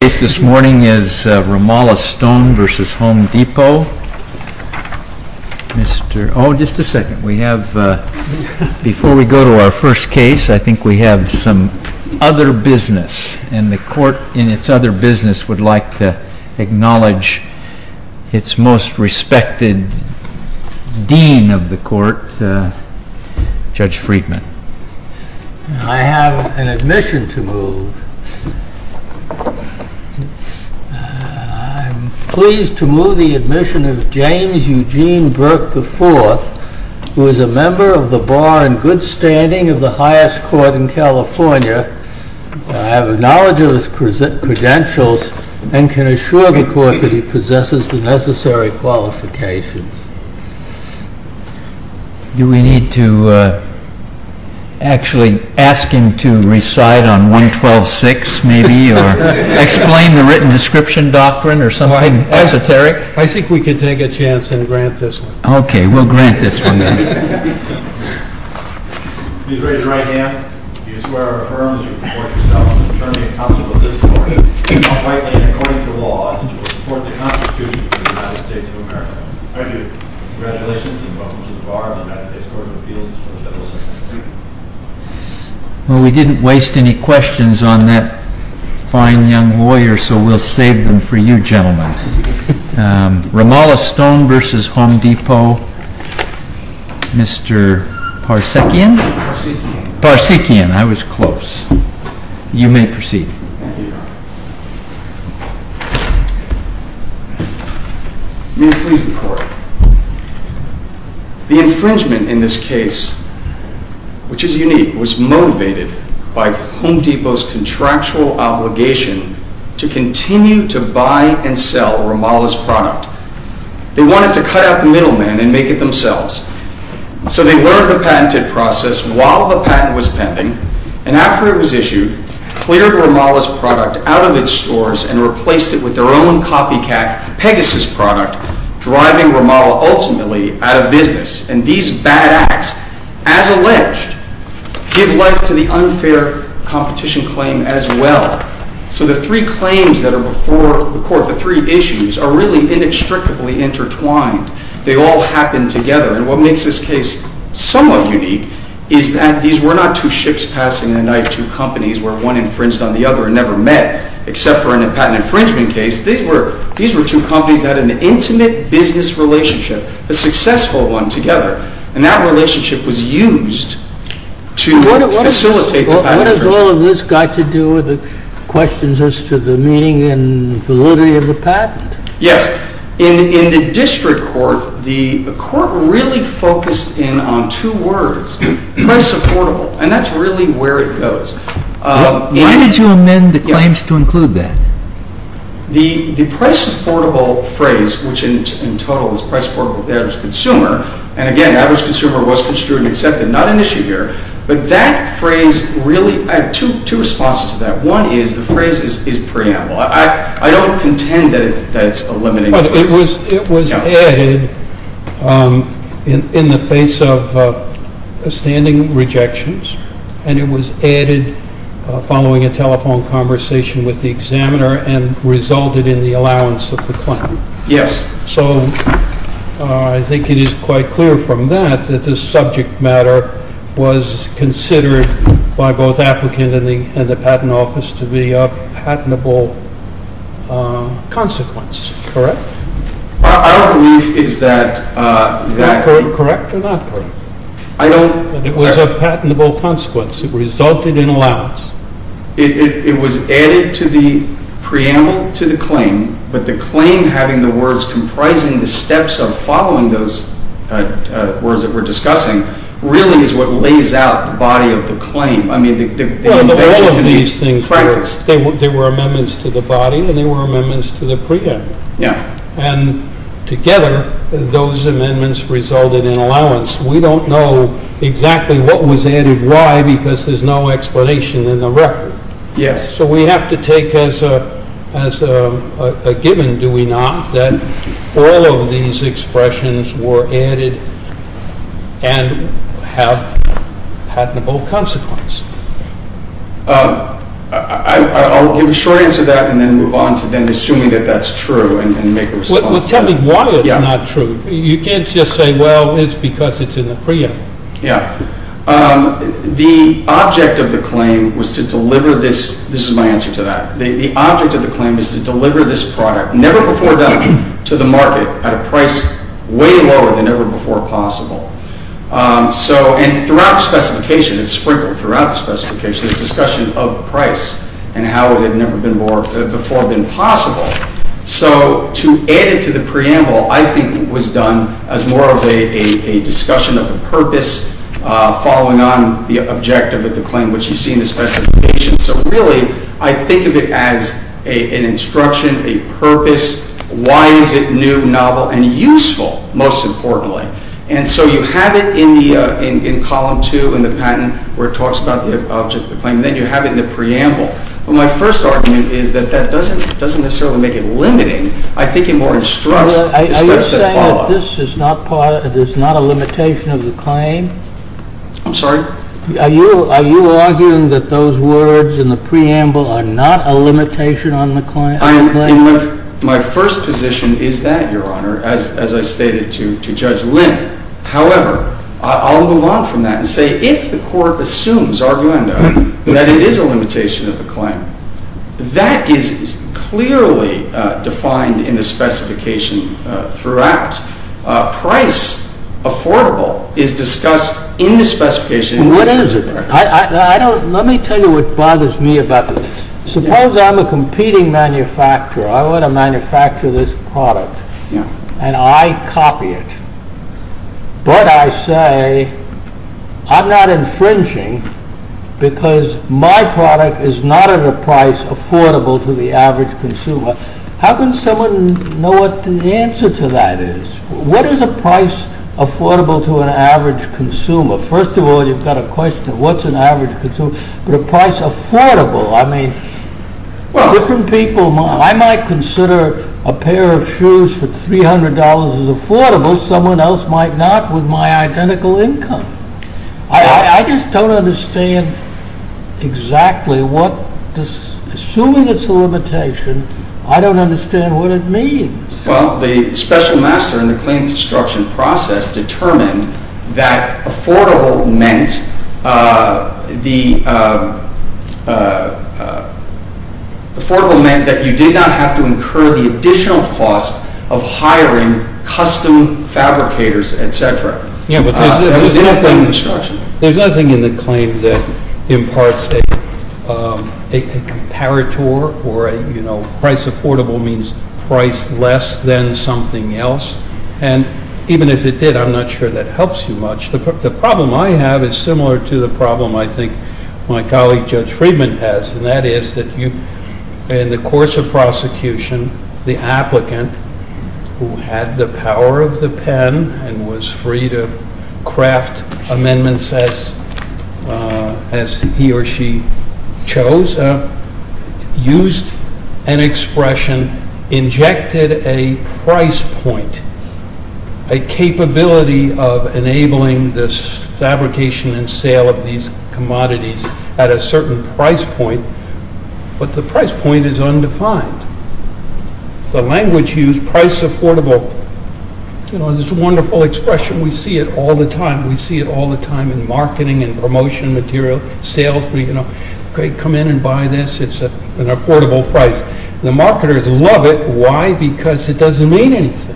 The case this morning is Romala Stone v. Home Depot. Before we go to our first case, I think we have some other business, and the Court, in its other business, would like to acknowledge its most respected dean of the Court, Judge Friedman. I have an admission to move. I am pleased to move the admission of James Eugene Burke IV, who is a member of the Bar and Good Standing of the highest court in California. I have knowledge of his credentials and can assure the Court that he possesses the necessary qualifications. Do we need to actually ask him to recite on 112.6, maybe, or explain the written description doctrine, or something esoteric? I think we can take a chance and grant this one. Okay, we'll grant this one, then. Please raise your right hand. Do you swear or affirm that you will support yourself in the determination of the counsel of this Court, and that, by law, you will support the Constitution of the United States of America? I do. Congratulations, and welcome to the Bar of the United States Court of Appeals. Well, we didn't waste any questions on that fine young lawyer, so we'll save them for you, gentlemen. Ramallah Stone v. Home Depot. Mr. Parsekian? Parsekian. Parsekian. I was close. You may proceed. Thank you, Your Honor. contractual obligation to continue to buy and sell Ramallah's product. They wanted to cut out the middleman and make it themselves. So they learned the patented process while the patent was pending, and after it was issued, cleared Ramallah's product out of its stores and replaced it with their own copycat Pegasus product, driving Ramallah ultimately out of business. And these bad acts, as alleged, give life to the unfair competition claim as well. So the three claims that are before the Court, the three issues, are really inextricably intertwined. They all happen together, and what makes this case somewhat unique is that these were not two ships passing the night, two companies where one infringed on the other and never met, except for in a patent infringement case. These were two companies that had an intimate business relationship, a successful one together, and that relationship was used to facilitate the patent infringement. What has all of this got to do with the questions as to the meaning and validity of the patent? Yes. In the district court, the court really focused in on two words, very supportable, and that's really where it goes. Why did you amend the claims to include that? The price-affordable phrase, which in total is price-affordable to the average consumer, and again, average consumer was construed and accepted, not an issue here, but that phrase really, I have two responses to that. One is the phrase is preamble. I don't contend that it's a limiting phrase. It was added in the face of standing rejections, and it was added following a telephone conversation with the examiner and resulted in the allowance of the claim. Yes. So I think it is quite clear from that that this subject matter was considered by both the applicant and the patent office to be a patentable consequence, correct? I don't believe that is that correct. Correct or not correct? I don't… It was a patentable consequence. It resulted in allowance. It was added to the preamble to the claim, but the claim having the words comprising the steps of following those words that we're discussing really is what lays out the body of the claim. There were amendments to the body, and there were amendments to the preamble, and together those amendments resulted in allowance. We don't know exactly what was added, why, because there's no explanation in the record. Yes. So we have to take as a given, do we not, that all of these expressions were added and have patentable consequence? I'll give a short answer to that and then move on to then assuming that that's true and make a response to that. Well, tell me why it's not true. You can't just say, well, it's because it's in the preamble. Yeah. The object of the claim was to deliver this… This is my answer to that. The object of the claim is to deliver this product never before done to the market at a price way lower than ever before possible. And throughout the specification, it's sprinkled throughout the specification, it's a discussion of price and how it had never before been possible. So to add it to the preamble, I think, was done as more of a discussion of the purpose following on the objective of the claim, which you see in the specification. So really, I think of it as an instruction, a purpose. Why is it new, novel, and useful, most importantly? And so you have it in Column 2 in the patent where it talks about the object of the claim. Then you have it in the preamble. Well, my first argument is that that doesn't necessarily make it limiting. I think it more instructs the steps that follow. Are you saying that this is not a limitation of the claim? I'm sorry? Are you arguing that those words in the preamble are not a limitation on the claim? My first position is that, Your Honor, as I stated to Judge Lynn. However, I'll move on from that and say, if the court assumes, arguendo, that it is a limitation of the claim, that is clearly defined in the specification throughout. Price, affordable, is discussed in the specification. What is it? Let me tell you what bothers me about this. Suppose I'm a competing manufacturer. I want to manufacture this product, and I copy it. But I say, I'm not infringing because my product is not at a price affordable to the average consumer. How can someone know what the answer to that is? What is a price affordable to an average consumer? First of all, you've got a question, what's an average consumer? But a price affordable, I mean, different people might. I might consider a pair of shoes for $300 as affordable. Someone else might not with my identical income. I just don't understand exactly what this, assuming it's a limitation, I don't understand what it means. Well, the special master in the claim construction process determined that affordable meant that you did not have to incur the additional cost of hiring custom fabricators, etc. That was in the claim construction. There's nothing in the claim that imparts a comparator or a, you know, price affordable means price less than something else. And even if it did, I'm not sure that helps you much. The problem I have is similar to the problem I think my colleague Judge Friedman has. And that is that you, in the course of prosecution, the applicant who had the power of the pen and was free to craft amendments as he or she chose, used an expression, injected a price point, a capability of enabling this fabrication and sale of these commodities at a certain price point. But the price point is undefined. The language used, price affordable, you know, is a wonderful expression. We see it all the time. We see it all the time in marketing and promotion material. Okay, come in and buy this. It's an affordable price. The marketers love it. Why? Because it doesn't mean anything.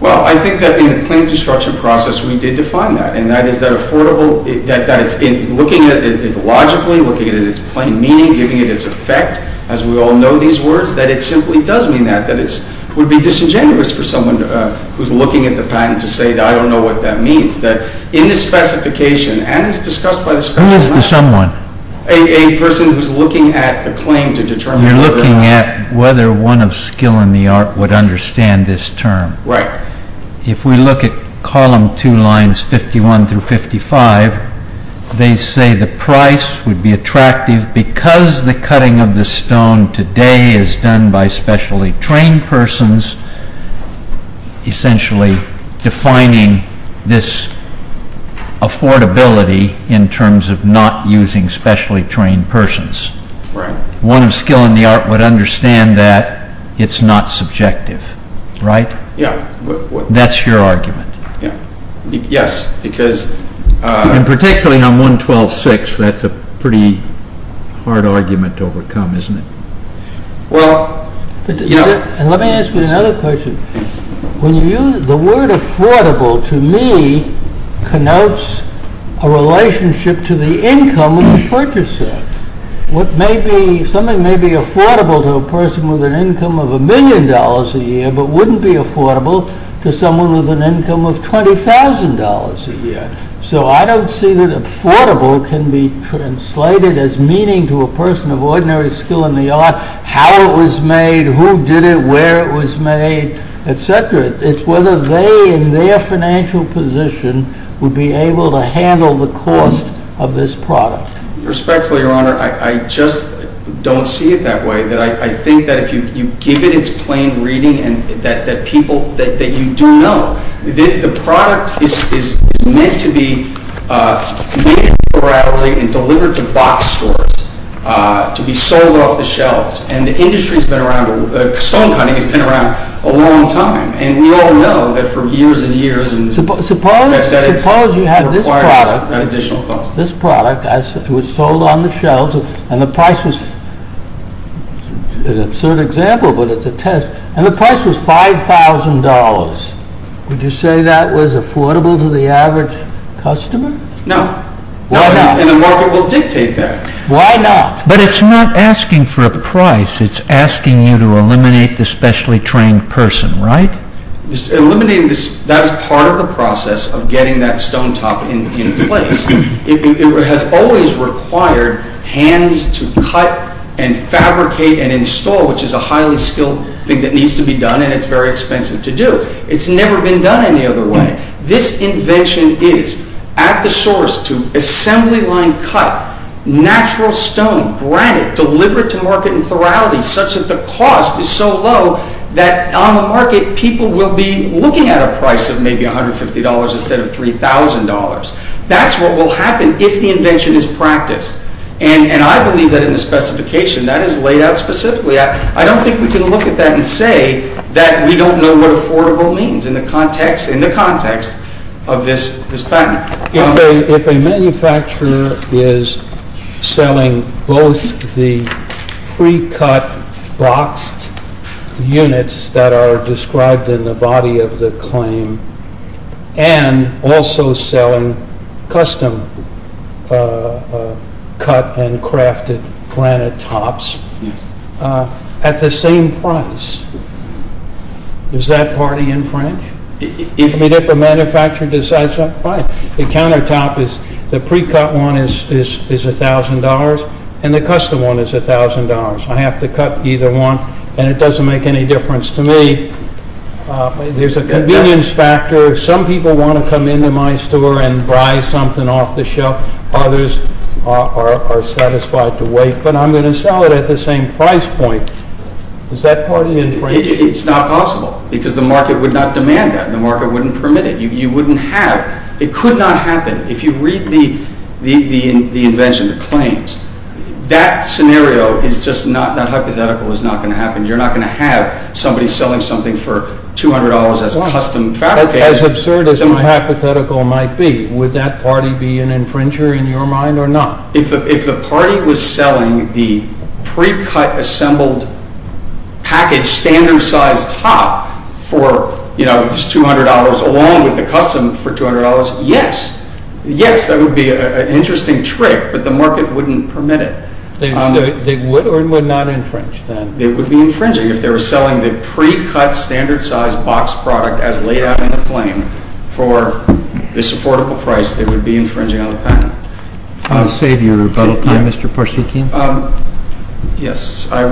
Well, I think that in the claim construction process, we did define that. And that is that affordable, that it's looking at it logically, looking at its plain meaning, giving it its effect, as we all know these words, that it simply does mean that. That it would be disingenuous for someone who's looking at the patent to say, I don't know what that means. Who is the someone? A person who's looking at the claim to determine whether or not. You're looking at whether one of skill in the art would understand this term. Right. If we look at column two lines 51 through 55, they say the price would be attractive because the cutting of the stone today is done by specially trained persons, essentially defining this affordability in terms of not using specially trained persons. Right. One of skill in the art would understand that it's not subjective. Right? Yeah. That's your argument. Yeah. Yes, because... And particularly on 112.6, that's a pretty hard argument to overcome, isn't it? Well, yeah. Let me ask you another question. The word affordable, to me, connotes a relationship to the income of the purchaser. Something may be affordable to a person with an income of a million dollars a year, but wouldn't be affordable to someone with an income of $20,000 a year. So, I don't see that affordable can be translated as meaning to a person of ordinary skill in the art, how it was made, who did it, where it was made, etc. It's whether they, in their financial position, would be able to handle the cost of this product. Respectfully, Your Honor, I just don't see it that way. I think that if you give it its plain reading, and that people, that you do know, the product is meant to be delivered to box stores, to be sold off the shelves. And the industry has been around, stone cutting has been around a long time. And we all know that for years and years... This product was sold on the shelves, and the price was, an absurd example, but it's a test, and the price was $5,000. Would you say that was affordable to the average customer? No. Why not? And the market will dictate that. Why not? But it's not asking for a price, it's asking you to eliminate the specially trained person, right? That's part of the process of getting that stone top in place. It has always required hands to cut and fabricate and install, which is a highly skilled thing that needs to be done, and it's very expensive to do. It's never been done any other way. This invention is at the source to assembly line cut, natural stone, granite, delivered to market in plurality, such that the cost is so low that on the market people will be looking at a price of maybe $150 instead of $3,000. That's what will happen if the invention is practiced. And I believe that in the specification that is laid out specifically. I don't think we can look at that and say that we don't know what affordable means in the context of this patent. If a manufacturer is selling both the pre-cut boxed units that are described in the body of the claim and also selling custom cut and crafted granite tops at the same price, is that party in French? If a manufacturer decides that the countertop is the pre-cut one is $1,000 and the custom one is $1,000. I have to cut either one and it doesn't make any difference to me. There's a convenience factor. Some people want to come into my store and buy something off the shelf. Others are satisfied to wait, but I'm going to sell it at the same price point. Is that party in French? It's not possible because the market would not demand that. The market wouldn't permit it. You wouldn't have. It could not happen. If you read the invention, the claims, that scenario is just not hypothetical. It's not going to happen. You're not going to have somebody selling something for $200 as custom fabricated. As absurd as hypothetical might be, would that party be an infringer in your mind or not? If the party was selling the pre-cut assembled package standard size top for $200 along with the custom for $200, yes. Yes, that would be an interesting trick, but the market wouldn't permit it. They would or would not infringe then? They would be infringing. If they were selling the pre-cut standard size box product as laid out in the claim for this affordable price, they would be infringing on the patent. I'm going to save you a little time, Mr. Parsikian. Yes. I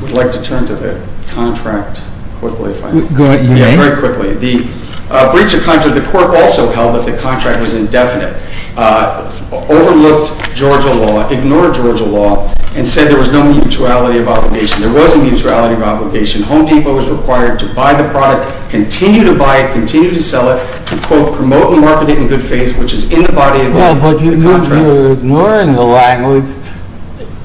would like to turn to the contract quickly, if I may. Go ahead. Very quickly. The breach of contract, the court also held that the contract was indefinite, overlooked Georgia law, ignored Georgia law, and said there was no mutuality of obligation. There was a mutuality of obligation. Home Depot is required to buy the product, continue to buy it, continue to sell it, to quote, promote and market it in good faith, which is in the body of the contract. Well, but you're ignoring the language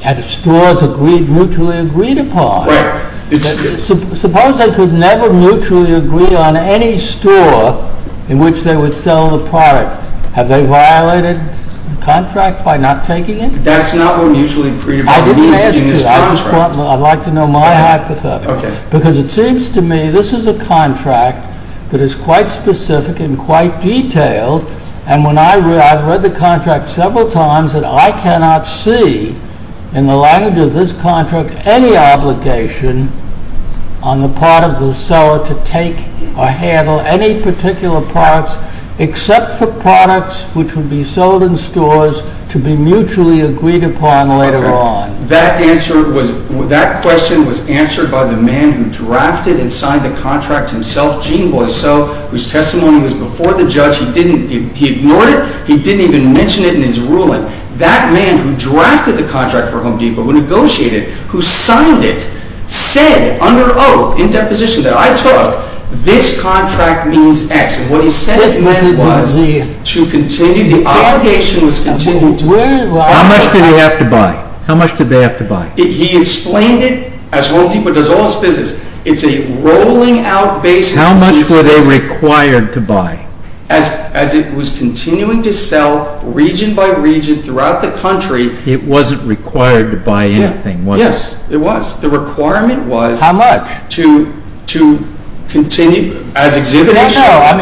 at stores agreed, mutually agreed upon. Right. Suppose they could never mutually agree on any store in which they would sell the product. Have they violated the contract by not taking it? That's not what mutually agreed upon means in this contract. I didn't ask you. I'd like to know my hypothesis. Okay. Because it seems to me this is a contract that is quite specific and quite detailed, and when I read, I've read the contract several times, and I cannot see in the language of this contract any obligation on the part of the seller to take or handle any particular products except for products which would be sold in stores to be mutually agreed upon later on. That answer was, that question was answered by the man who drafted and signed the contract himself, Gene Boisseau, whose testimony was before the judge. He didn't, he ignored it. He didn't even mention it in his ruling. That man who drafted the contract for Home Depot, who negotiated, who signed it, said under oath, in deposition that I took, this contract means X. What he said was to continue, the obligation was continued. How much did he have to buy? How much did they have to buy? He explained it as Home Depot does all its business. It's a rolling out basis. How much were they required to buy? As it was continuing to sell region by region throughout the country. It wasn't required to buy anything, was it? Yes, it was. The requirement was. How much? To continue as exhibition. No, no. I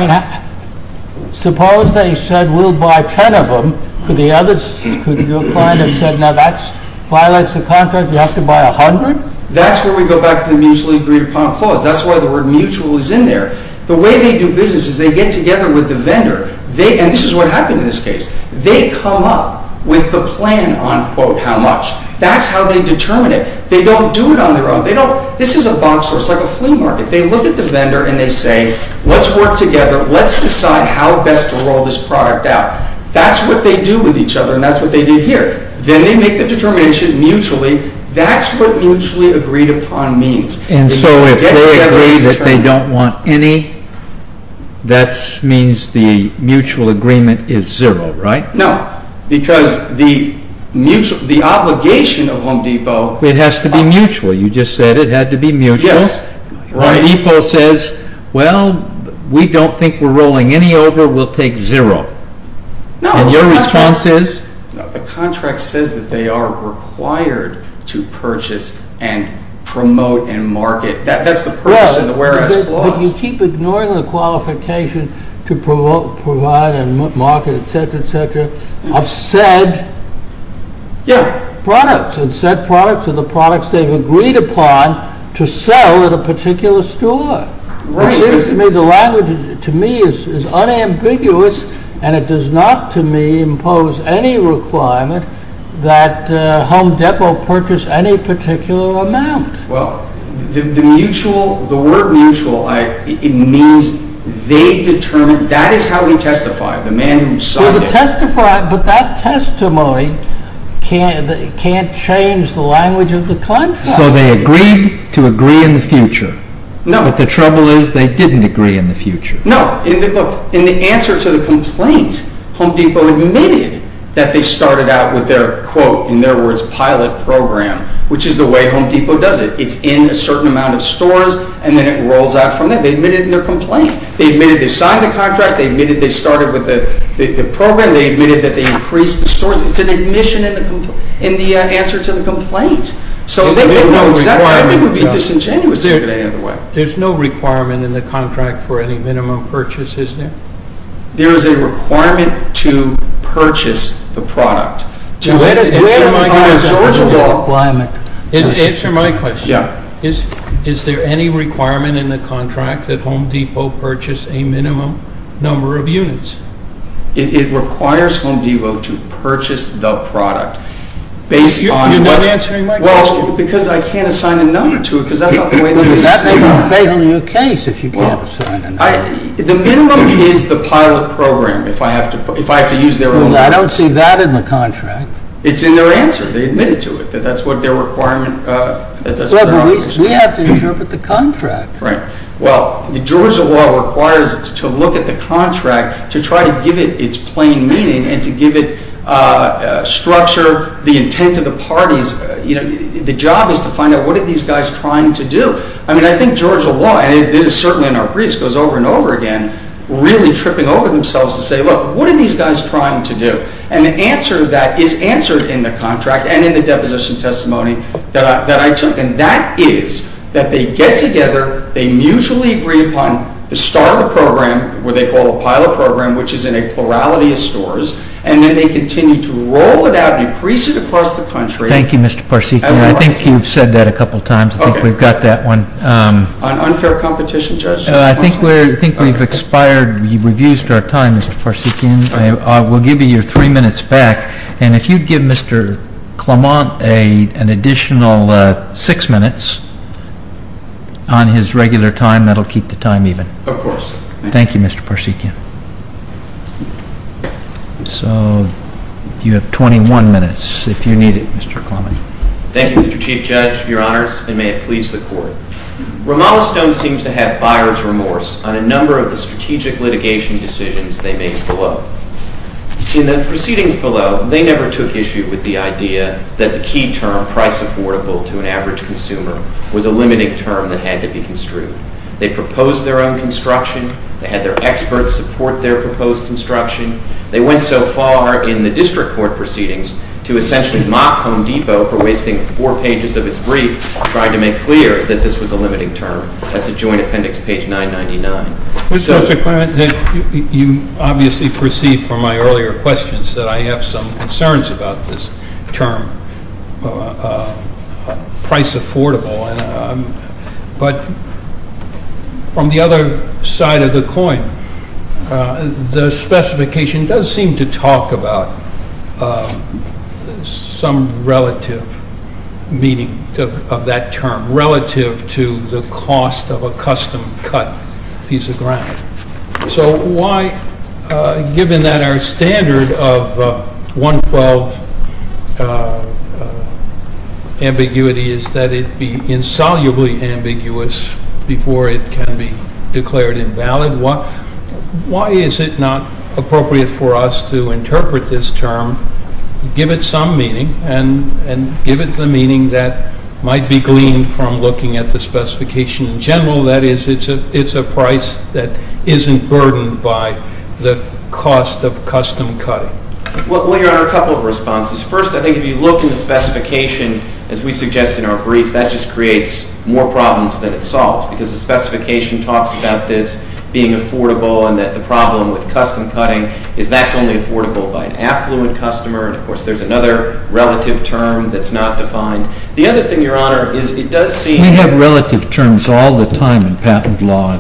mean, suppose they said we'll buy 10 of them. Could the others, could your client have said, now that violates the contract, you have to buy 100? That's where we go back to the mutually agreed upon clause. That's why the word mutual is in there. The way they do business is they get together with the vendor. They, and this is what happened in this case. They come up with the plan on quote how much. That's how they determine it. They don't do it on their own. They don't, this is a box store. It's like a flea market. They look at the vendor and they say let's work together. Let's decide how best to roll this product out. That's what they do with each other and that's what they did here. Then they make the determination mutually. That's what mutually agreed upon means. And so if they agree that they don't want any, that means the mutual agreement is zero, right? No, because the obligation of Home Depot. It has to be mutual. You just said it had to be mutual. Home Depot says, well, we don't think we're rolling any over. We'll take zero. And your response is? The contract says that they are required to purchase and promote and market. That's the purpose of the whereas clause. But you keep ignoring the qualification to provide and market, et cetera, et cetera, of said products. And said products are the products they've agreed upon to sell at a particular store. It seems to me, the language to me is unambiguous. And it does not, to me, impose any requirement that Home Depot purchase any particular amount. Well, the mutual, the word mutual, it means they determine, that is how we testify, the man who signed it. But that testimony can't change the language of the claim form. So they agreed to agree in the future. No. But the trouble is they didn't agree in the future. No. Look, in the answer to the complaint, Home Depot admitted that they started out with their, quote, in their words, pilot program, which is the way Home Depot does it. It's in a certain amount of stores, and then it rolls out from there. They admitted in their complaint. They admitted they signed the contract. They admitted they started with the program. They admitted that they increased the stores. It's an admission in the answer to the complaint. So they don't know exactly. I think it would be disingenuous to do it any other way. There's no requirement in the contract for any minimum purchase, is there? There is a requirement to purchase the product. To where in Georgia? Answer my question. Yeah. Is there any requirement in the contract that Home Depot purchase a minimum? Number of units. It requires Home Depot to purchase the product. You're not answering my question. Well, because I can't assign a number to it, because that's not the way they sign it. Well, that would be a fatal new case if you can't assign a number. The minimum is the pilot program, if I have to use their own words. Well, I don't see that in the contract. It's in their answer. They admitted to it. That's what their requirement is. Well, but we have to interpret the contract. Right. Well, the Georgia law requires to look at the contract to try to give it its plain meaning and to give it structure, the intent of the parties. The job is to find out what are these guys trying to do. I mean, I think Georgia law, and it is certainly in our briefs, goes over and over again, really tripping over themselves to say, look, what are these guys trying to do? And the answer to that is answered in the contract and in the deposition testimony that I took. And that is that they get together, they mutually agree upon the start of the program, what they call a pilot program, which is in a plurality of stores, and then they continue to roll it out and increase it across the country. Thank you, Mr. Parsekian. I think you've said that a couple of times. I think we've got that one. On unfair competition, Judge? I think we've expired. We've used our time, Mr. Parsekian. We'll give you your three minutes back. And if you'd give Mr. Clement an additional six minutes on his regular time, that will keep the time even. Of course. Thank you, Mr. Parsekian. So you have 21 minutes if you need it, Mr. Clement. Thank you, Mr. Chief Judge, Your Honors, and may it please the Court. Ramallah Stone seems to have buyer's remorse on a number of the strategic litigation decisions they made below. In the proceedings below, they never took issue with the idea that the key term, price affordable to an average consumer, was a limiting term that had to be construed. They proposed their own construction. They had their experts support their proposed construction. They went so far in the district court proceedings to essentially mock Home Depot for wasting four pages of its brief, trying to make clear that this was a limiting term. That's a joint appendix, page 999. Mr. Clement, you obviously perceived from my earlier questions that I have some concerns about this term, price affordable. But on the other side of the coin, the specification does seem to talk about some relative meaning of that term, relative to the cost of a custom-cut piece of ground. So why, given that our standard of 112 ambiguity is that it be insolubly ambiguous before it can be declared invalid, why is it not appropriate for us to interpret this term, give it some meaning, and give it the meaning that might be gleaned from looking at the specification in general, that is, it's a price that isn't burdened by the cost of custom-cutting? Well, Your Honor, a couple of responses. First, I think if you look in the specification, as we suggest in our brief, that just creates more problems than it solves because the specification talks about this being affordable and that the problem with custom-cutting is that's only affordable by an affluent customer. And, of course, there's another relative term that's not defined. The other thing, Your Honor, is it does seem— We have relative terms all the time in patent law.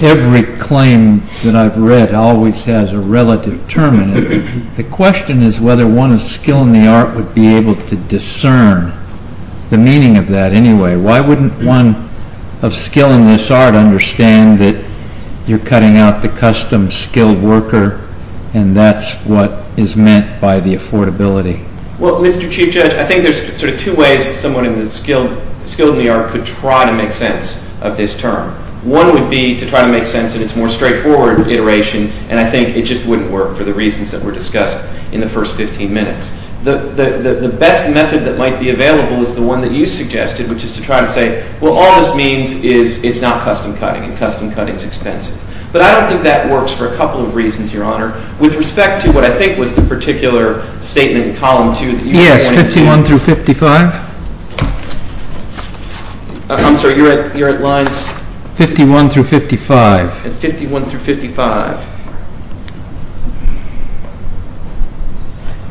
Every claim that I've read always has a relative term in it. The question is whether one of skill in the art would be able to discern the meaning of that anyway. Why wouldn't one of skill in this art understand that you're cutting out the custom-skilled worker and that's what is meant by the affordability? Well, Mr. Chief Judge, I think there's sort of two ways someone skilled in the art could try to make sense of this term. One would be to try to make sense of its more straightforward iteration, and I think it just wouldn't work for the reasons that were discussed in the first 15 minutes. The best method that might be available is the one that you suggested, which is to try to say, well, all this means is it's not custom-cutting and custom-cutting is expensive. But I don't think that works for a couple of reasons, Your Honor, with respect to what I think was the particular statement in Column 2 that you were wanting to— Yes, 51 through 55. I'm sorry, you're at lines— 51 through 55. 51 through 55.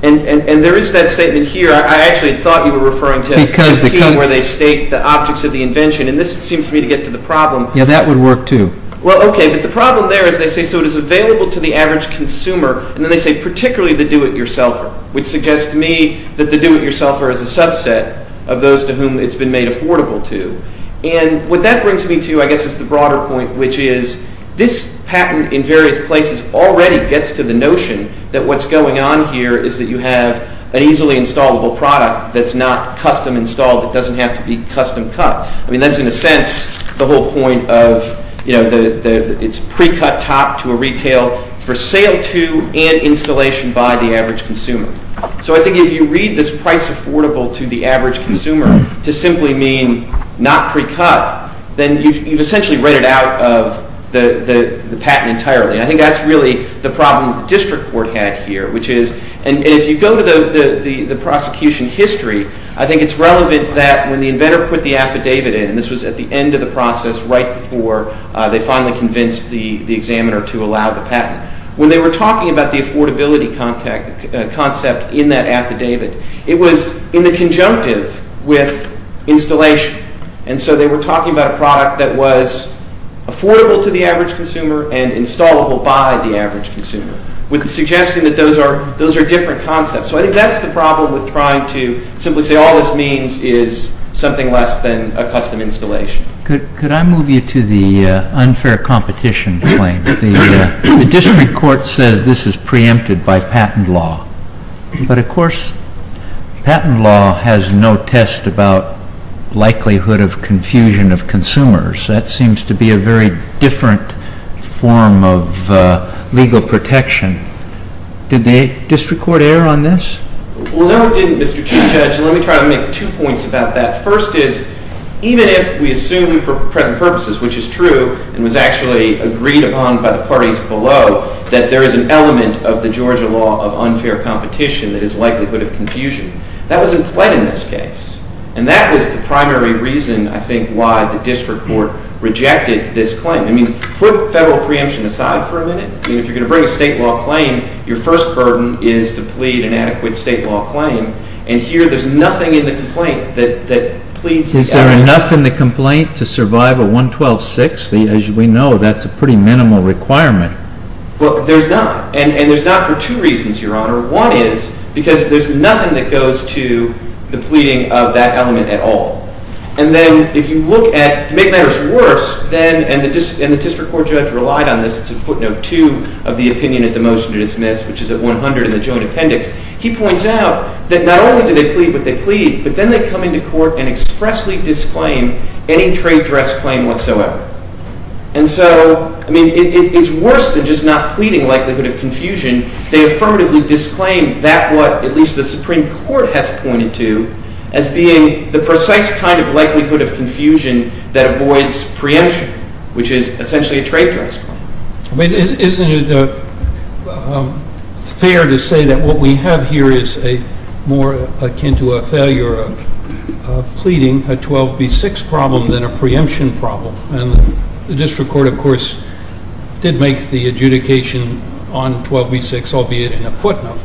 And there is that statement here. I actually thought you were referring to the key where they state the objects of the invention, and this seems to me to get to the problem. Yeah, that would work too. Well, okay, but the problem there is they say so it is available to the average consumer, and then they say particularly the do-it-yourselfer, which suggests to me that the do-it-yourselfer is a subset of those to whom it's been made affordable to. And what that brings me to, I guess, is the broader point, which is this patent in various places already gets to the notion that what's going on here is that you have an easily installable product that's not custom-installed, that doesn't have to be custom-cut. I mean, that's in a sense the whole point of it's pre-cut top to a retail for sale to and installation by the average consumer. So I think if you read this price affordable to the average consumer to simply mean not pre-cut, then you've essentially read it out of the patent entirely. And I think that's really the problem the district court had here, which is—and if you go to the prosecution history, I think it's relevant that when the inventor put the affidavit in, and this was at the end of the process right before they finally convinced the examiner to allow the patent, when they were talking about the affordability concept in that affidavit, it was in the conjunctive with installation. And so they were talking about a product that was affordable to the average consumer and installable by the average consumer with the suggestion that those are different concepts. So I think that's the problem with trying to simply say all this means is something less than a custom installation. Could I move you to the unfair competition claim? The district court says this is preempted by patent law, but of course patent law has no test about likelihood of confusion of consumers. That seems to be a very different form of legal protection. Did the district court err on this? Well, no it didn't, Mr. Chief Judge. Let me try to make two points about that. First is, even if we assume for present purposes, which is true, and was actually agreed upon by the parties below, that there is an element of the Georgia law of unfair competition that is likelihood of confusion. That was in play in this case. And that was the primary reason, I think, why the district court rejected this claim. I mean, put federal preemption aside for a minute. I mean, if you're going to bring a state law claim, your first burden is to plead an adequate state law claim. And here there's nothing in the complaint that pleads the element. Is there enough in the complaint to survive a 112-6? As we know, that's a pretty minimal requirement. Well, there's not. And there's not for two reasons, Your Honor. One is because there's nothing that goes to the pleading of that element at all. And then if you look at, to make matters worse, and the district court judge relied on this. It's in footnote 2 of the opinion of the motion to dismiss, which is at 100 in the joint appendix. He points out that not only do they plead what they plead, but then they come into court and expressly disclaim any trade dress claim whatsoever. And so, I mean, it's worse than just not pleading likelihood of confusion. They affirmatively disclaim that what at least the Supreme Court has pointed to as being the precise kind of likelihood of confusion that avoids preemption, which is essentially a trade dress claim. Isn't it fair to say that what we have here is more akin to a failure of pleading, a 12B-6 problem than a preemption problem? And the district court, of course, did make the adjudication on 12B-6, albeit in a footnote.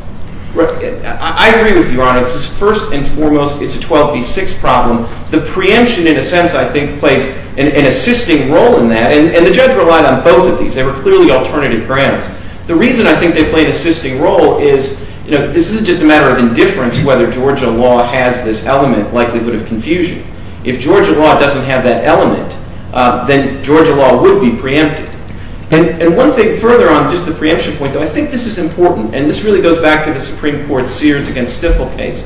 I agree with you, Your Honor. First and foremost, it's a 12B-6 problem. The preemption, in a sense, I think, plays an assisting role in that. And the judge relied on both of these. They were clearly alternative grounds. The reason I think they play an assisting role is this isn't just a matter of indifference whether Georgia law has this element, likelihood of confusion. If Georgia law doesn't have that element, then Georgia law would be preempted. And one thing further on just the preemption point, though, I think this is important, and this really goes back to the Supreme Court's Sears against Stifel case.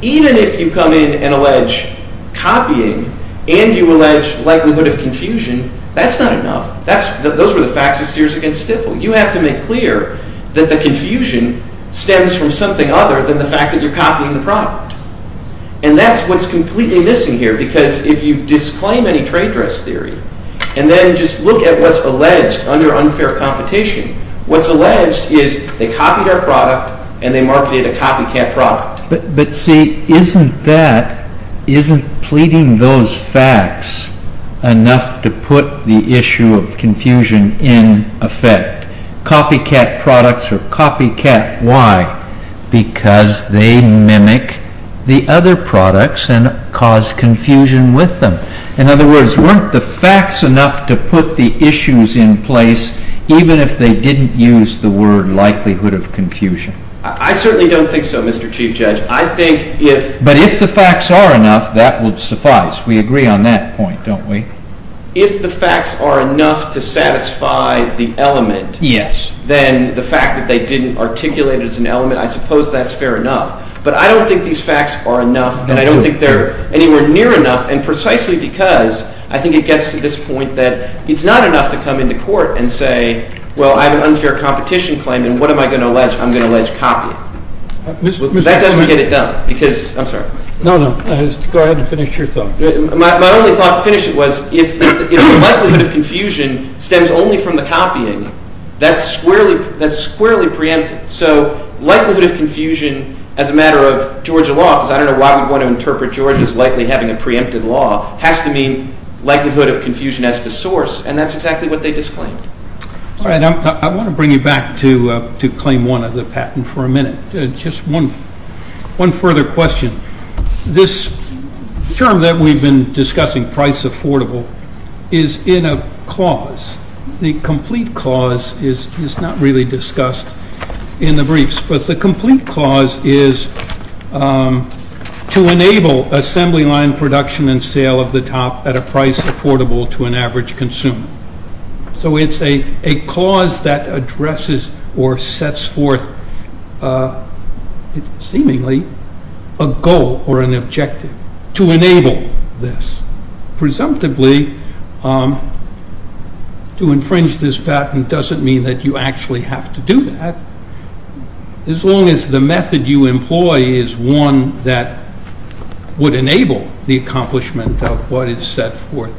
Even if you come in and allege copying and you allege likelihood of confusion, that's not enough. Those were the facts of Sears against Stifel. You have to make clear that the confusion stems from something other than the fact that you're copying the product. And that's what's completely missing here because if you disclaim any trade dress theory and then just look at what's alleged under unfair competition, what's alleged is they copied our product and they marketed a copycat product. But see, isn't that, isn't pleading those facts enough to put the issue of confusion in effect? Copycat products or copycat, why? Because they mimic the other products and cause confusion with them. In other words, weren't the facts enough to put the issues in place, even if they didn't use the word likelihood of confusion? I certainly don't think so, Mr. Chief Judge. But if the facts are enough, that would suffice. We agree on that point, don't we? If the facts are enough to satisfy the element, then the fact that they didn't articulate it as an element, I suppose that's fair enough. But I don't think these facts are enough and I don't think they're anywhere near enough and precisely because I think it gets to this point that it's not enough to come into court and say, well, I have an unfair competition claim and what am I going to allege? I'm going to allege copying. That doesn't get it done because, I'm sorry. No, no, go ahead and finish your thought. My only thought to finish it was if likelihood of confusion stems only from the copying, that's squarely preempted. So likelihood of confusion as a matter of Georgia law, because I don't know why we want to interpret Georgia as likely having a preempted law, has to mean likelihood of confusion as to source, and that's exactly what they disclaimed. All right. I want to bring you back to Claim 1 of the patent for a minute. Just one further question. This term that we've been discussing, price affordable, is in a clause. The complete clause is not really discussed in the briefs. But the complete clause is to enable assembly line production and sale of the top at a price affordable to an average consumer. So it's a clause that addresses or sets forth seemingly a goal or an objective to enable this. Presumptively, to infringe this patent doesn't mean that you actually have to do that, as long as the method you employ is one that would enable the accomplishment of what is set forth.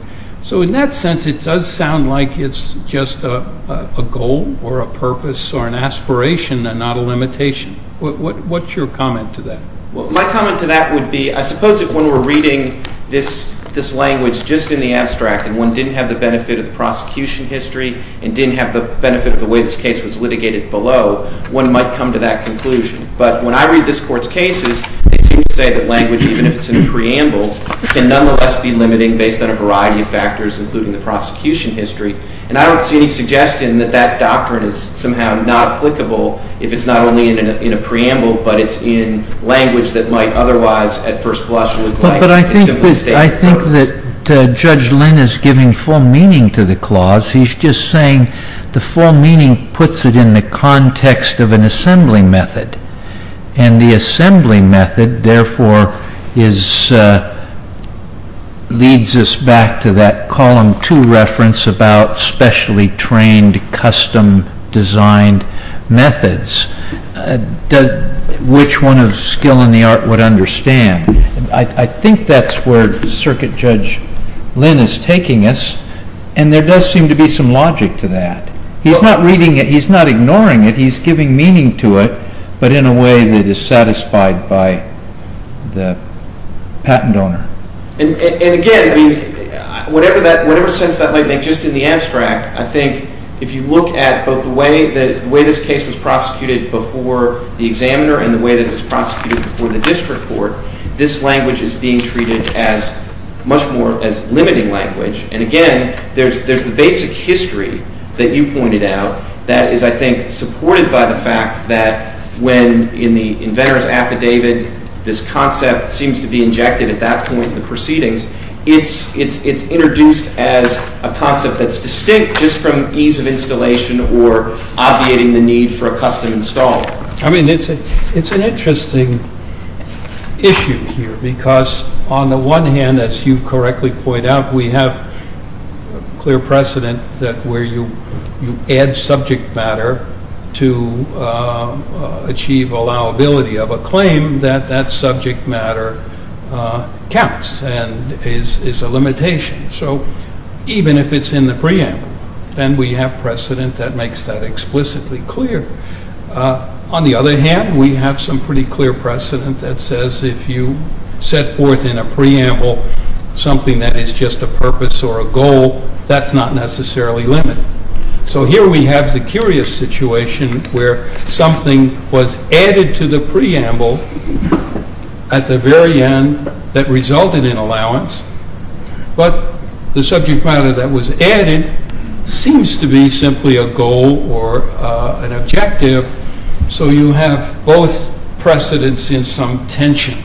So in that sense, it does sound like it's just a goal or a purpose or an aspiration and not a limitation. What's your comment to that? Well, my comment to that would be I suppose if one were reading this language just in the abstract and one didn't have the benefit of the prosecution history and didn't have the benefit of the way this case was litigated below, one might come to that conclusion. But when I read this Court's cases, they seem to say that language, even if it's in a preamble, can nonetheless be limiting based on a variety of factors, including the prosecution history. And I don't see any suggestion that that doctrine is somehow not applicable if it's not only in a preamble but it's in language that might otherwise at first glance look like a simplistic purpose. But I think that Judge Lynn is giving full meaning to the clause. He's just saying the full meaning puts it in the context of an assembly method. And the assembly method, therefore, leads us back to that Column 2 reference about specially trained custom-designed methods. Which one of skill and the art would understand? I think that's where Circuit Judge Lynn is taking us. And there does seem to be some logic to that. He's not reading it. He's not ignoring it. He's giving meaning to it but in a way that is satisfied by the patent owner. And again, whatever sense that might make, just in the abstract, I think if you look at both the way this case was prosecuted before the examiner and the way that it was prosecuted before the district court, this language is being treated as much more as limiting language. And again, there's the basic history that you pointed out that is, I think, supported by the fact that when in the inventor's affidavit this concept seems to be injected at that point in the proceedings, it's introduced as a concept that's distinct just from ease of installation or obviating the need for a custom installer. I mean, it's an interesting issue here because on the one hand, as you correctly point out, we have clear precedent that where you add subject matter to achieve allowability of a claim, that that subject matter counts and is a limitation. So even if it's in the preamble, then we have precedent that makes that explicitly clear. On the other hand, we have some pretty clear precedent that says if you set forth in a preamble something that is just a purpose or a goal, that's not necessarily limited. So here we have the curious situation where something was added to the preamble at the very end that resulted in allowance, but the subject matter that was added seems to be simply a goal or an objective. So you have both precedents in some tension.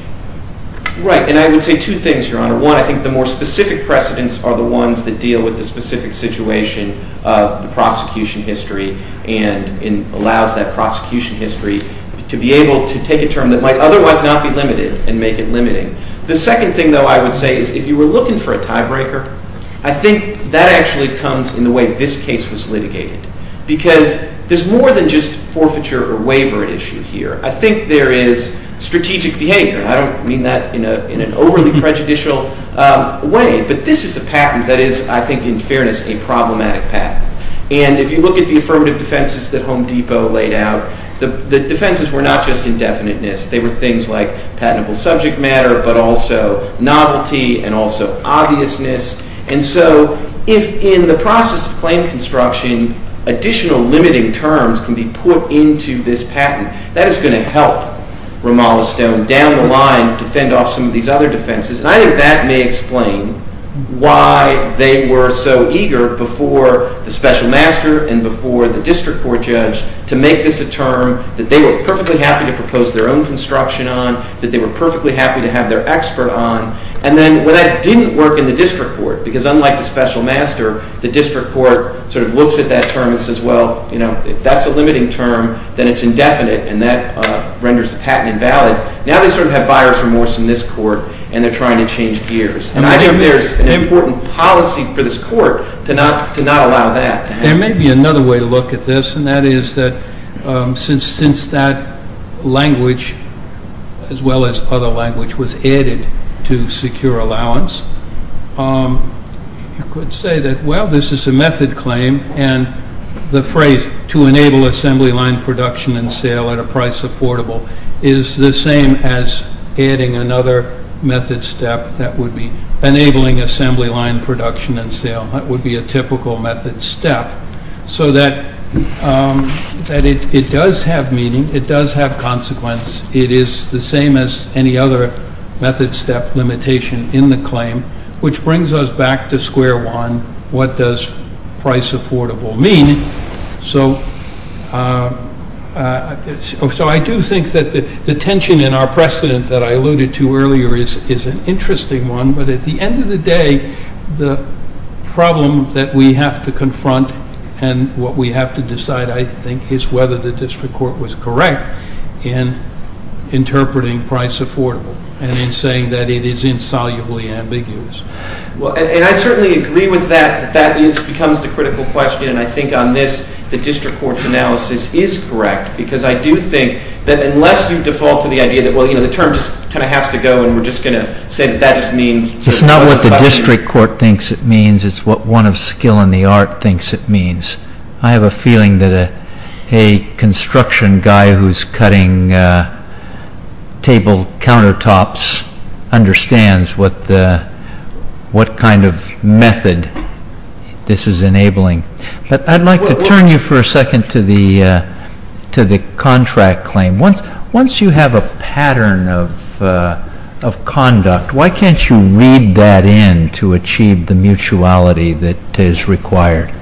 Right, and I would say two things, Your Honor. One, I think the more specific precedents are the ones that deal with the specific situation of the prosecution history and allows that prosecution history to be able to take a term that might otherwise not be limited and make it limiting. The second thing, though, I would say is if you were looking for a tiebreaker, I think that actually comes in the way this case was litigated because there's more than just forfeiture or waiver issue here. I think there is strategic behavior. I don't mean that in an overly prejudicial way, but this is a patent that is, I think in fairness, a problematic patent. And if you look at the affirmative defenses that Home Depot laid out, the defenses were not just indefiniteness. They were things like patentable subject matter, but also novelty and also obviousness. And so if in the process of claim construction additional limiting terms can be put into this patent, that is going to help Ramallah Stone down the line defend off some of these other defenses. And I think that may explain why they were so eager before the special master and before the district court judge to make this a term that they were perfectly happy to propose their own construction on, that they were perfectly happy to have their expert on. And then when that didn't work in the district court, because unlike the special master, the district court sort of looks at that term and says, well, you know, that's a limiting term, then it's indefinite, and that renders the patent invalid. Now they sort of have buyer's remorse in this court, and they're trying to change gears. And I think there's an important policy for this court to not allow that. There may be another way to look at this, and that is that since that language, as well as other language, was added to secure allowance, you could say that, well, this is a method claim, and the phrase, to enable assembly line production and sale at a price affordable, is the same as adding another method step that would be enabling assembly line production and sale. That would be a typical method step. So that it does have meaning. It does have consequence. It is the same as any other method step limitation in the claim, which brings us back to square one. What does price affordable mean? So I do think that the tension in our precedent that I alluded to earlier is an interesting one. But at the end of the day, the problem that we have to confront and what we have to decide, I think, is whether the district court was correct in interpreting price affordable and in saying that it is insolubly ambiguous. And I certainly agree with that. That becomes the critical question, and I think on this, the district court's analysis is correct, because I do think that unless you default to the idea that, well, you know, the term just kind of has to go, and we're just going to say that that just means. It's not what the district court thinks it means. It's what one of skill in the art thinks it means. I have a feeling that a construction guy who's cutting table countertops understands what kind of method this is enabling. But I'd like to turn you for a second to the contract claim. Once you have a pattern of conduct, why can't you read that in to achieve the mutuality that is required?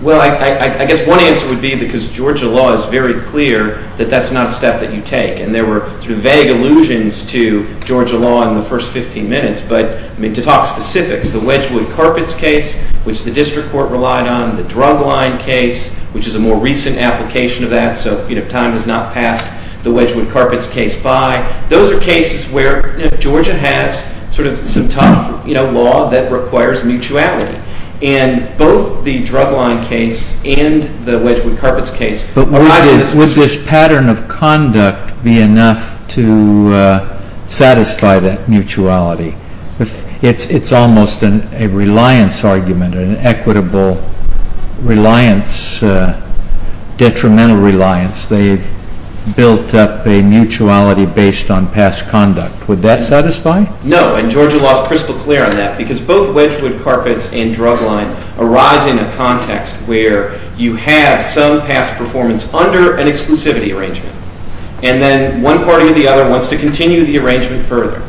Well, I guess one answer would be because Georgia law is very clear that that's not a step that you take, and there were sort of vague allusions to Georgia law in the first 15 minutes. But, I mean, to talk specifics, the Wedgwood Carpets case, which the district court relied on, the Drugline case, which is a more recent application of that, so, you know, time has not passed the Wedgwood Carpets case by. Those are cases where, you know, Georgia has sort of some tough, you know, law that requires mutuality. And both the Drugline case and the Wedgwood Carpets case. But would this pattern of conduct be enough to satisfy that mutuality? It's almost a reliance argument, an equitable reliance, detrimental reliance. They've built up a mutuality based on past conduct. Would that satisfy? No, and Georgia law is crystal clear on that, because both Wedgwood Carpets and Drugline arise in a context where you have some past performance under an exclusivity arrangement. And then one party or the other wants to continue the arrangement further.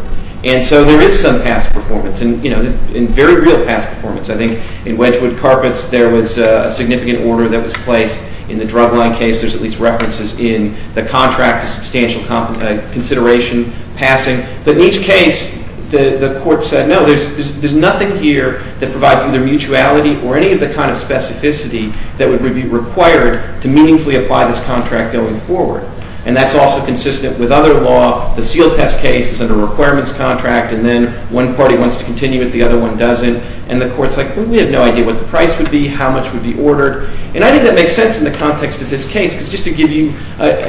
And so there is some past performance, and, you know, very real past performance. I think in Wedgwood Carpets there was a significant order that was placed. In the Drugline case there's at least references in the contract of substantial consideration passing. But in each case the court said, no, there's nothing here that provides either mutuality or any of the kind of specificity that would be required to meaningfully apply this contract going forward. And that's also consistent with other law. The seal test case is under a requirements contract, and then one party wants to continue it, the other one doesn't. And the court's like, well, we have no idea what the price would be, how much would be ordered. And I think that makes sense in the context of this case, because just to give you,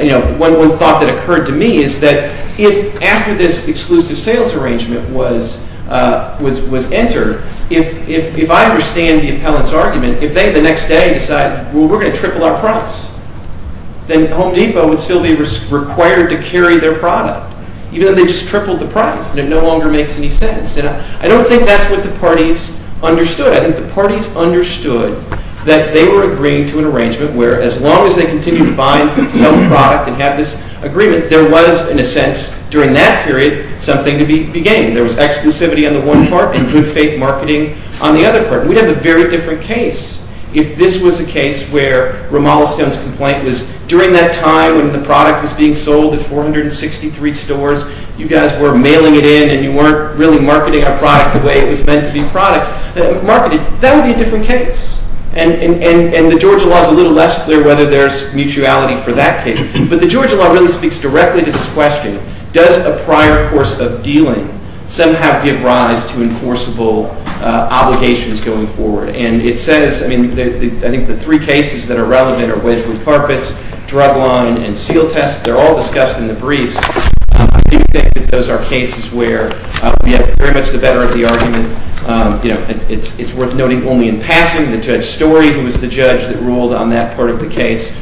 you know, one thought that occurred to me is that if after this exclusive sales arrangement was entered, if I understand the appellant's argument, if they the next day decide, well, we're going to triple our price, then Home Depot would still be required to carry their product, even though they just tripled the price, and it no longer makes any sense. And I don't think that's what the parties understood. I think the parties understood that they were agreeing to an arrangement where as long as they continue to buy and sell the product and have this agreement, there was, in a sense, during that period, something to be gained. There was exclusivity on the one part and good faith marketing on the other part. We'd have a very different case if this was a case where Ramalaston's complaint was during that time when the product was being sold at 463 stores, you guys were mailing it in and you weren't really marketing our product the way it was meant to be marketed. That would be a different case. And the Georgia law is a little less clear whether there's mutuality for that case. But the Georgia law really speaks directly to this question. Does a prior course of dealing somehow give rise to enforceable obligations going forward? And it says, I mean, I think the three cases that are relevant are Wedgwood Carpets, Drug Line, and Seal Test. They're all discussed in the briefs. I do think that those are cases where we have very much the better of the argument. It's worth noting only in passing that Judge Story, who was the judge that ruled on that part of the case,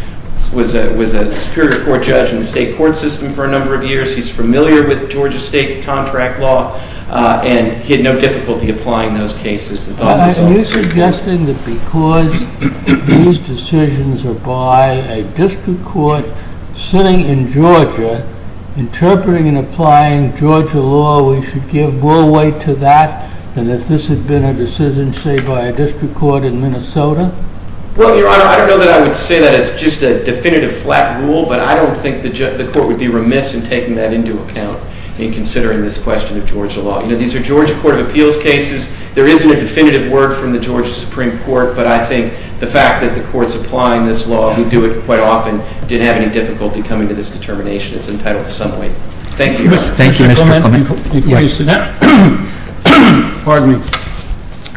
was a superior court judge in the state court system for a number of years. He's familiar with Georgia state contract law, and he had no difficulty applying those cases. Are you suggesting that because these decisions are by a district court sitting in Georgia, interpreting and applying Georgia law, we should give more weight to that than if this had been a decision, say, by a district court in Minnesota? Well, Your Honor, I don't know that I would say that as just a definitive flat rule, but I don't think the court would be remiss in taking that into account in considering this question of Georgia law. You know, these are Georgia Court of Appeals cases. There isn't a definitive word from the Georgia Supreme Court, but I think the fact that the courts applying this law, who do it quite often, didn't have any difficulty coming to this determination is entitled to some weight. Thank you, Your Honor. Thank you, Mr. Clement. Pardon me.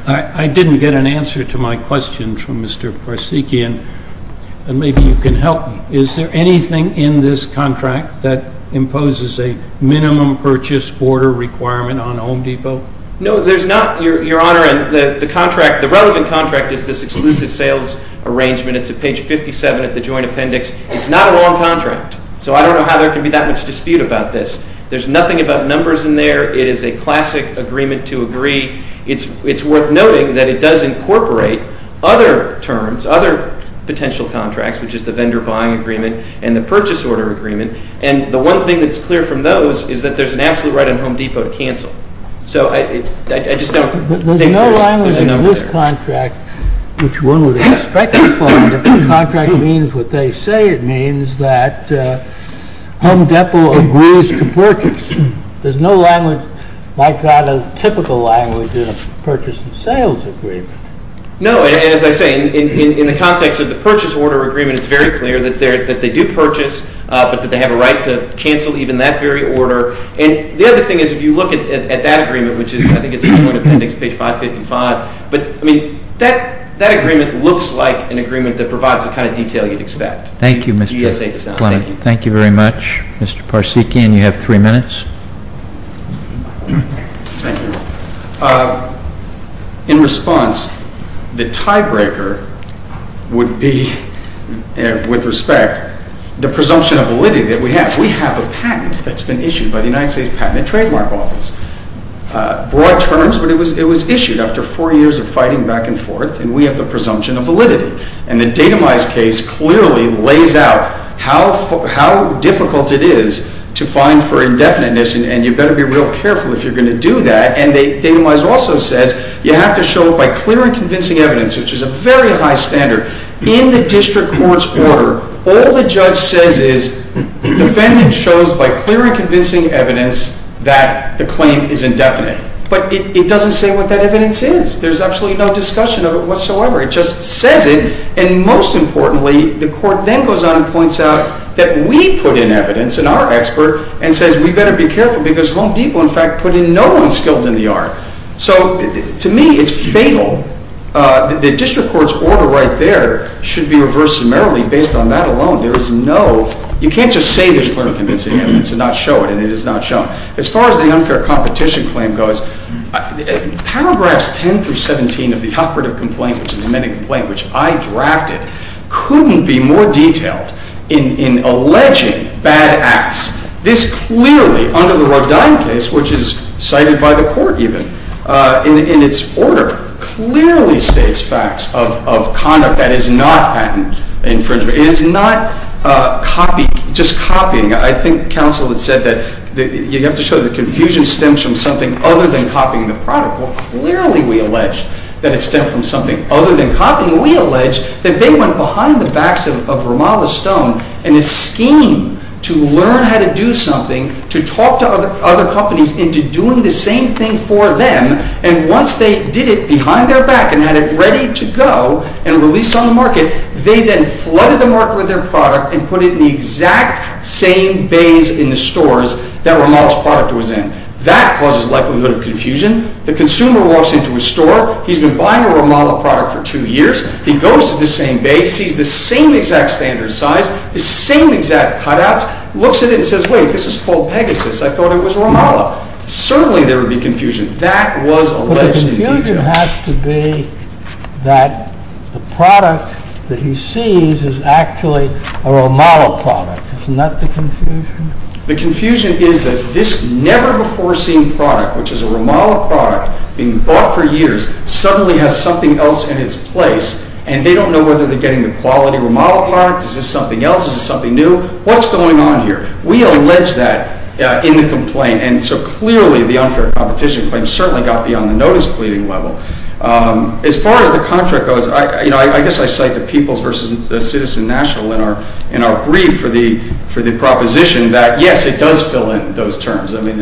I didn't get an answer to my question from Mr. Parsiki, and maybe you can help me. Is there anything in this contract that imposes a minimum purchase order requirement on Home Depot? No, there's not, Your Honor. The relevant contract is this exclusive sales arrangement. It's at page 57 of the joint appendix. It's not a long contract, so I don't know how there can be that much dispute about this. There's nothing about numbers in there. It is a classic agreement to agree. It's worth noting that it does incorporate other terms, other potential contracts, which is the vendor buying agreement and the purchase order agreement, and the one thing that's clear from those is that there's an absolute right on Home Depot to cancel. So I just don't think there's a number there. But there's no language in this contract which one would expect to find. If the contract means what they say it means, that Home Depot agrees to purchase. There's no language like that, a typical language, in a purchase and sales agreement. No, and as I say, in the context of the purchase order agreement, it's very clear that they do purchase, but that they have a right to cancel even that very order. And the other thing is if you look at that agreement, which is, I think it's on the joint appendix, page 555, but, I mean, that agreement looks like an agreement that provides the kind of detail you'd expect. Thank you, Mr. Clement. Thank you very much, Mr. Parseki, and you have three minutes. Thank you. In response, the tiebreaker would be, with respect, the presumption of validity that we have. We have a patent that's been issued by the United States Patent and Trademark Office. Broad terms, but it was issued after four years of fighting back and forth, and we have the presumption of validity. And the datamized case clearly lays out how difficult it is to find for indefiniteness, and you better be real careful if you're going to do that. And datamized also says you have to show it by clear and convincing evidence, which is a very high standard. In the district court's order, all the judge says is the defendant shows by clear and convincing evidence that the claim is indefinite. But it doesn't say what that evidence is. There's absolutely no discussion of it whatsoever. It just says it, and most importantly, the court then goes on and points out that we put in evidence, and our expert, and says we better be careful because Home Depot, in fact, put in no unskilled in the art. So to me, it's fatal. The district court's order right there should be reversed summarily based on that alone. There is no—you can't just say there's clear and convincing evidence and not show it, and it is not shown. As far as the unfair competition claim goes, paragraphs 10 through 17 of the operative complaint, which is the amended complaint, which I drafted, couldn't be more detailed in alleging bad acts. This clearly, under the Rodin case, which is cited by the court even in its order, clearly states facts of conduct that is not patent infringement. It is not just copying. I think counsel had said that you have to show that confusion stems from something other than copying the product. Well, clearly we allege that it stemmed from something other than copying. We allege that they went behind the backs of Ramallah Stone in a scheme to learn how to do something, to talk to other companies into doing the same thing for them, and once they did it behind their back and had it ready to go and released on the market, they then flooded the market with their product and put it in the exact same bays in the stores that Ramallah's product was in. That causes likelihood of confusion. The consumer walks into a store. He's been buying a Ramallah product for two years. He goes to the same bays, sees the same exact standard size, the same exact cutouts, looks at it and says, wait, this is called Pegasus. I thought it was Ramallah. Certainly there would be confusion. That was alleged in detail. But the confusion has to be that the product that he sees is actually a Ramallah product. Isn't that the confusion? The confusion is that this never-before-seen product, which is a Ramallah product, being bought for years, suddenly has something else in its place, and they don't know whether they're getting the quality Ramallah product. Is this something else? Is this something new? What's going on here? We allege that in the complaint. And so clearly the unfair competition claim certainly got beyond the notice pleading level. As far as the contract goes, I guess I cite the People's versus the Citizen National in our brief for the proposition. Yes, it does fill in those terms. I mean,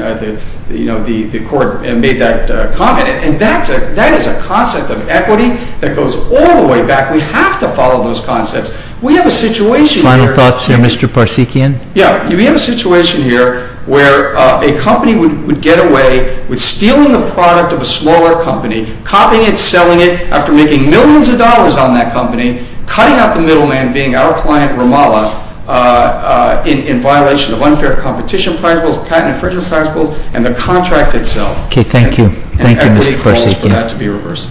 you know, the court made that comment. And that is a concept of equity that goes all the way back. We have to follow those concepts. We have a situation here. Final thoughts here, Mr. Parsekian? Yeah. We have a situation here where a company would get away with stealing the product of a smaller company, copying it, selling it, after making millions of dollars on that company, cutting out the middleman being our client Ramallah in violation of unfair competition principles, patent infringement principles, and the contract itself. Okay. Thank you. Thank you, Mr. Parsekian.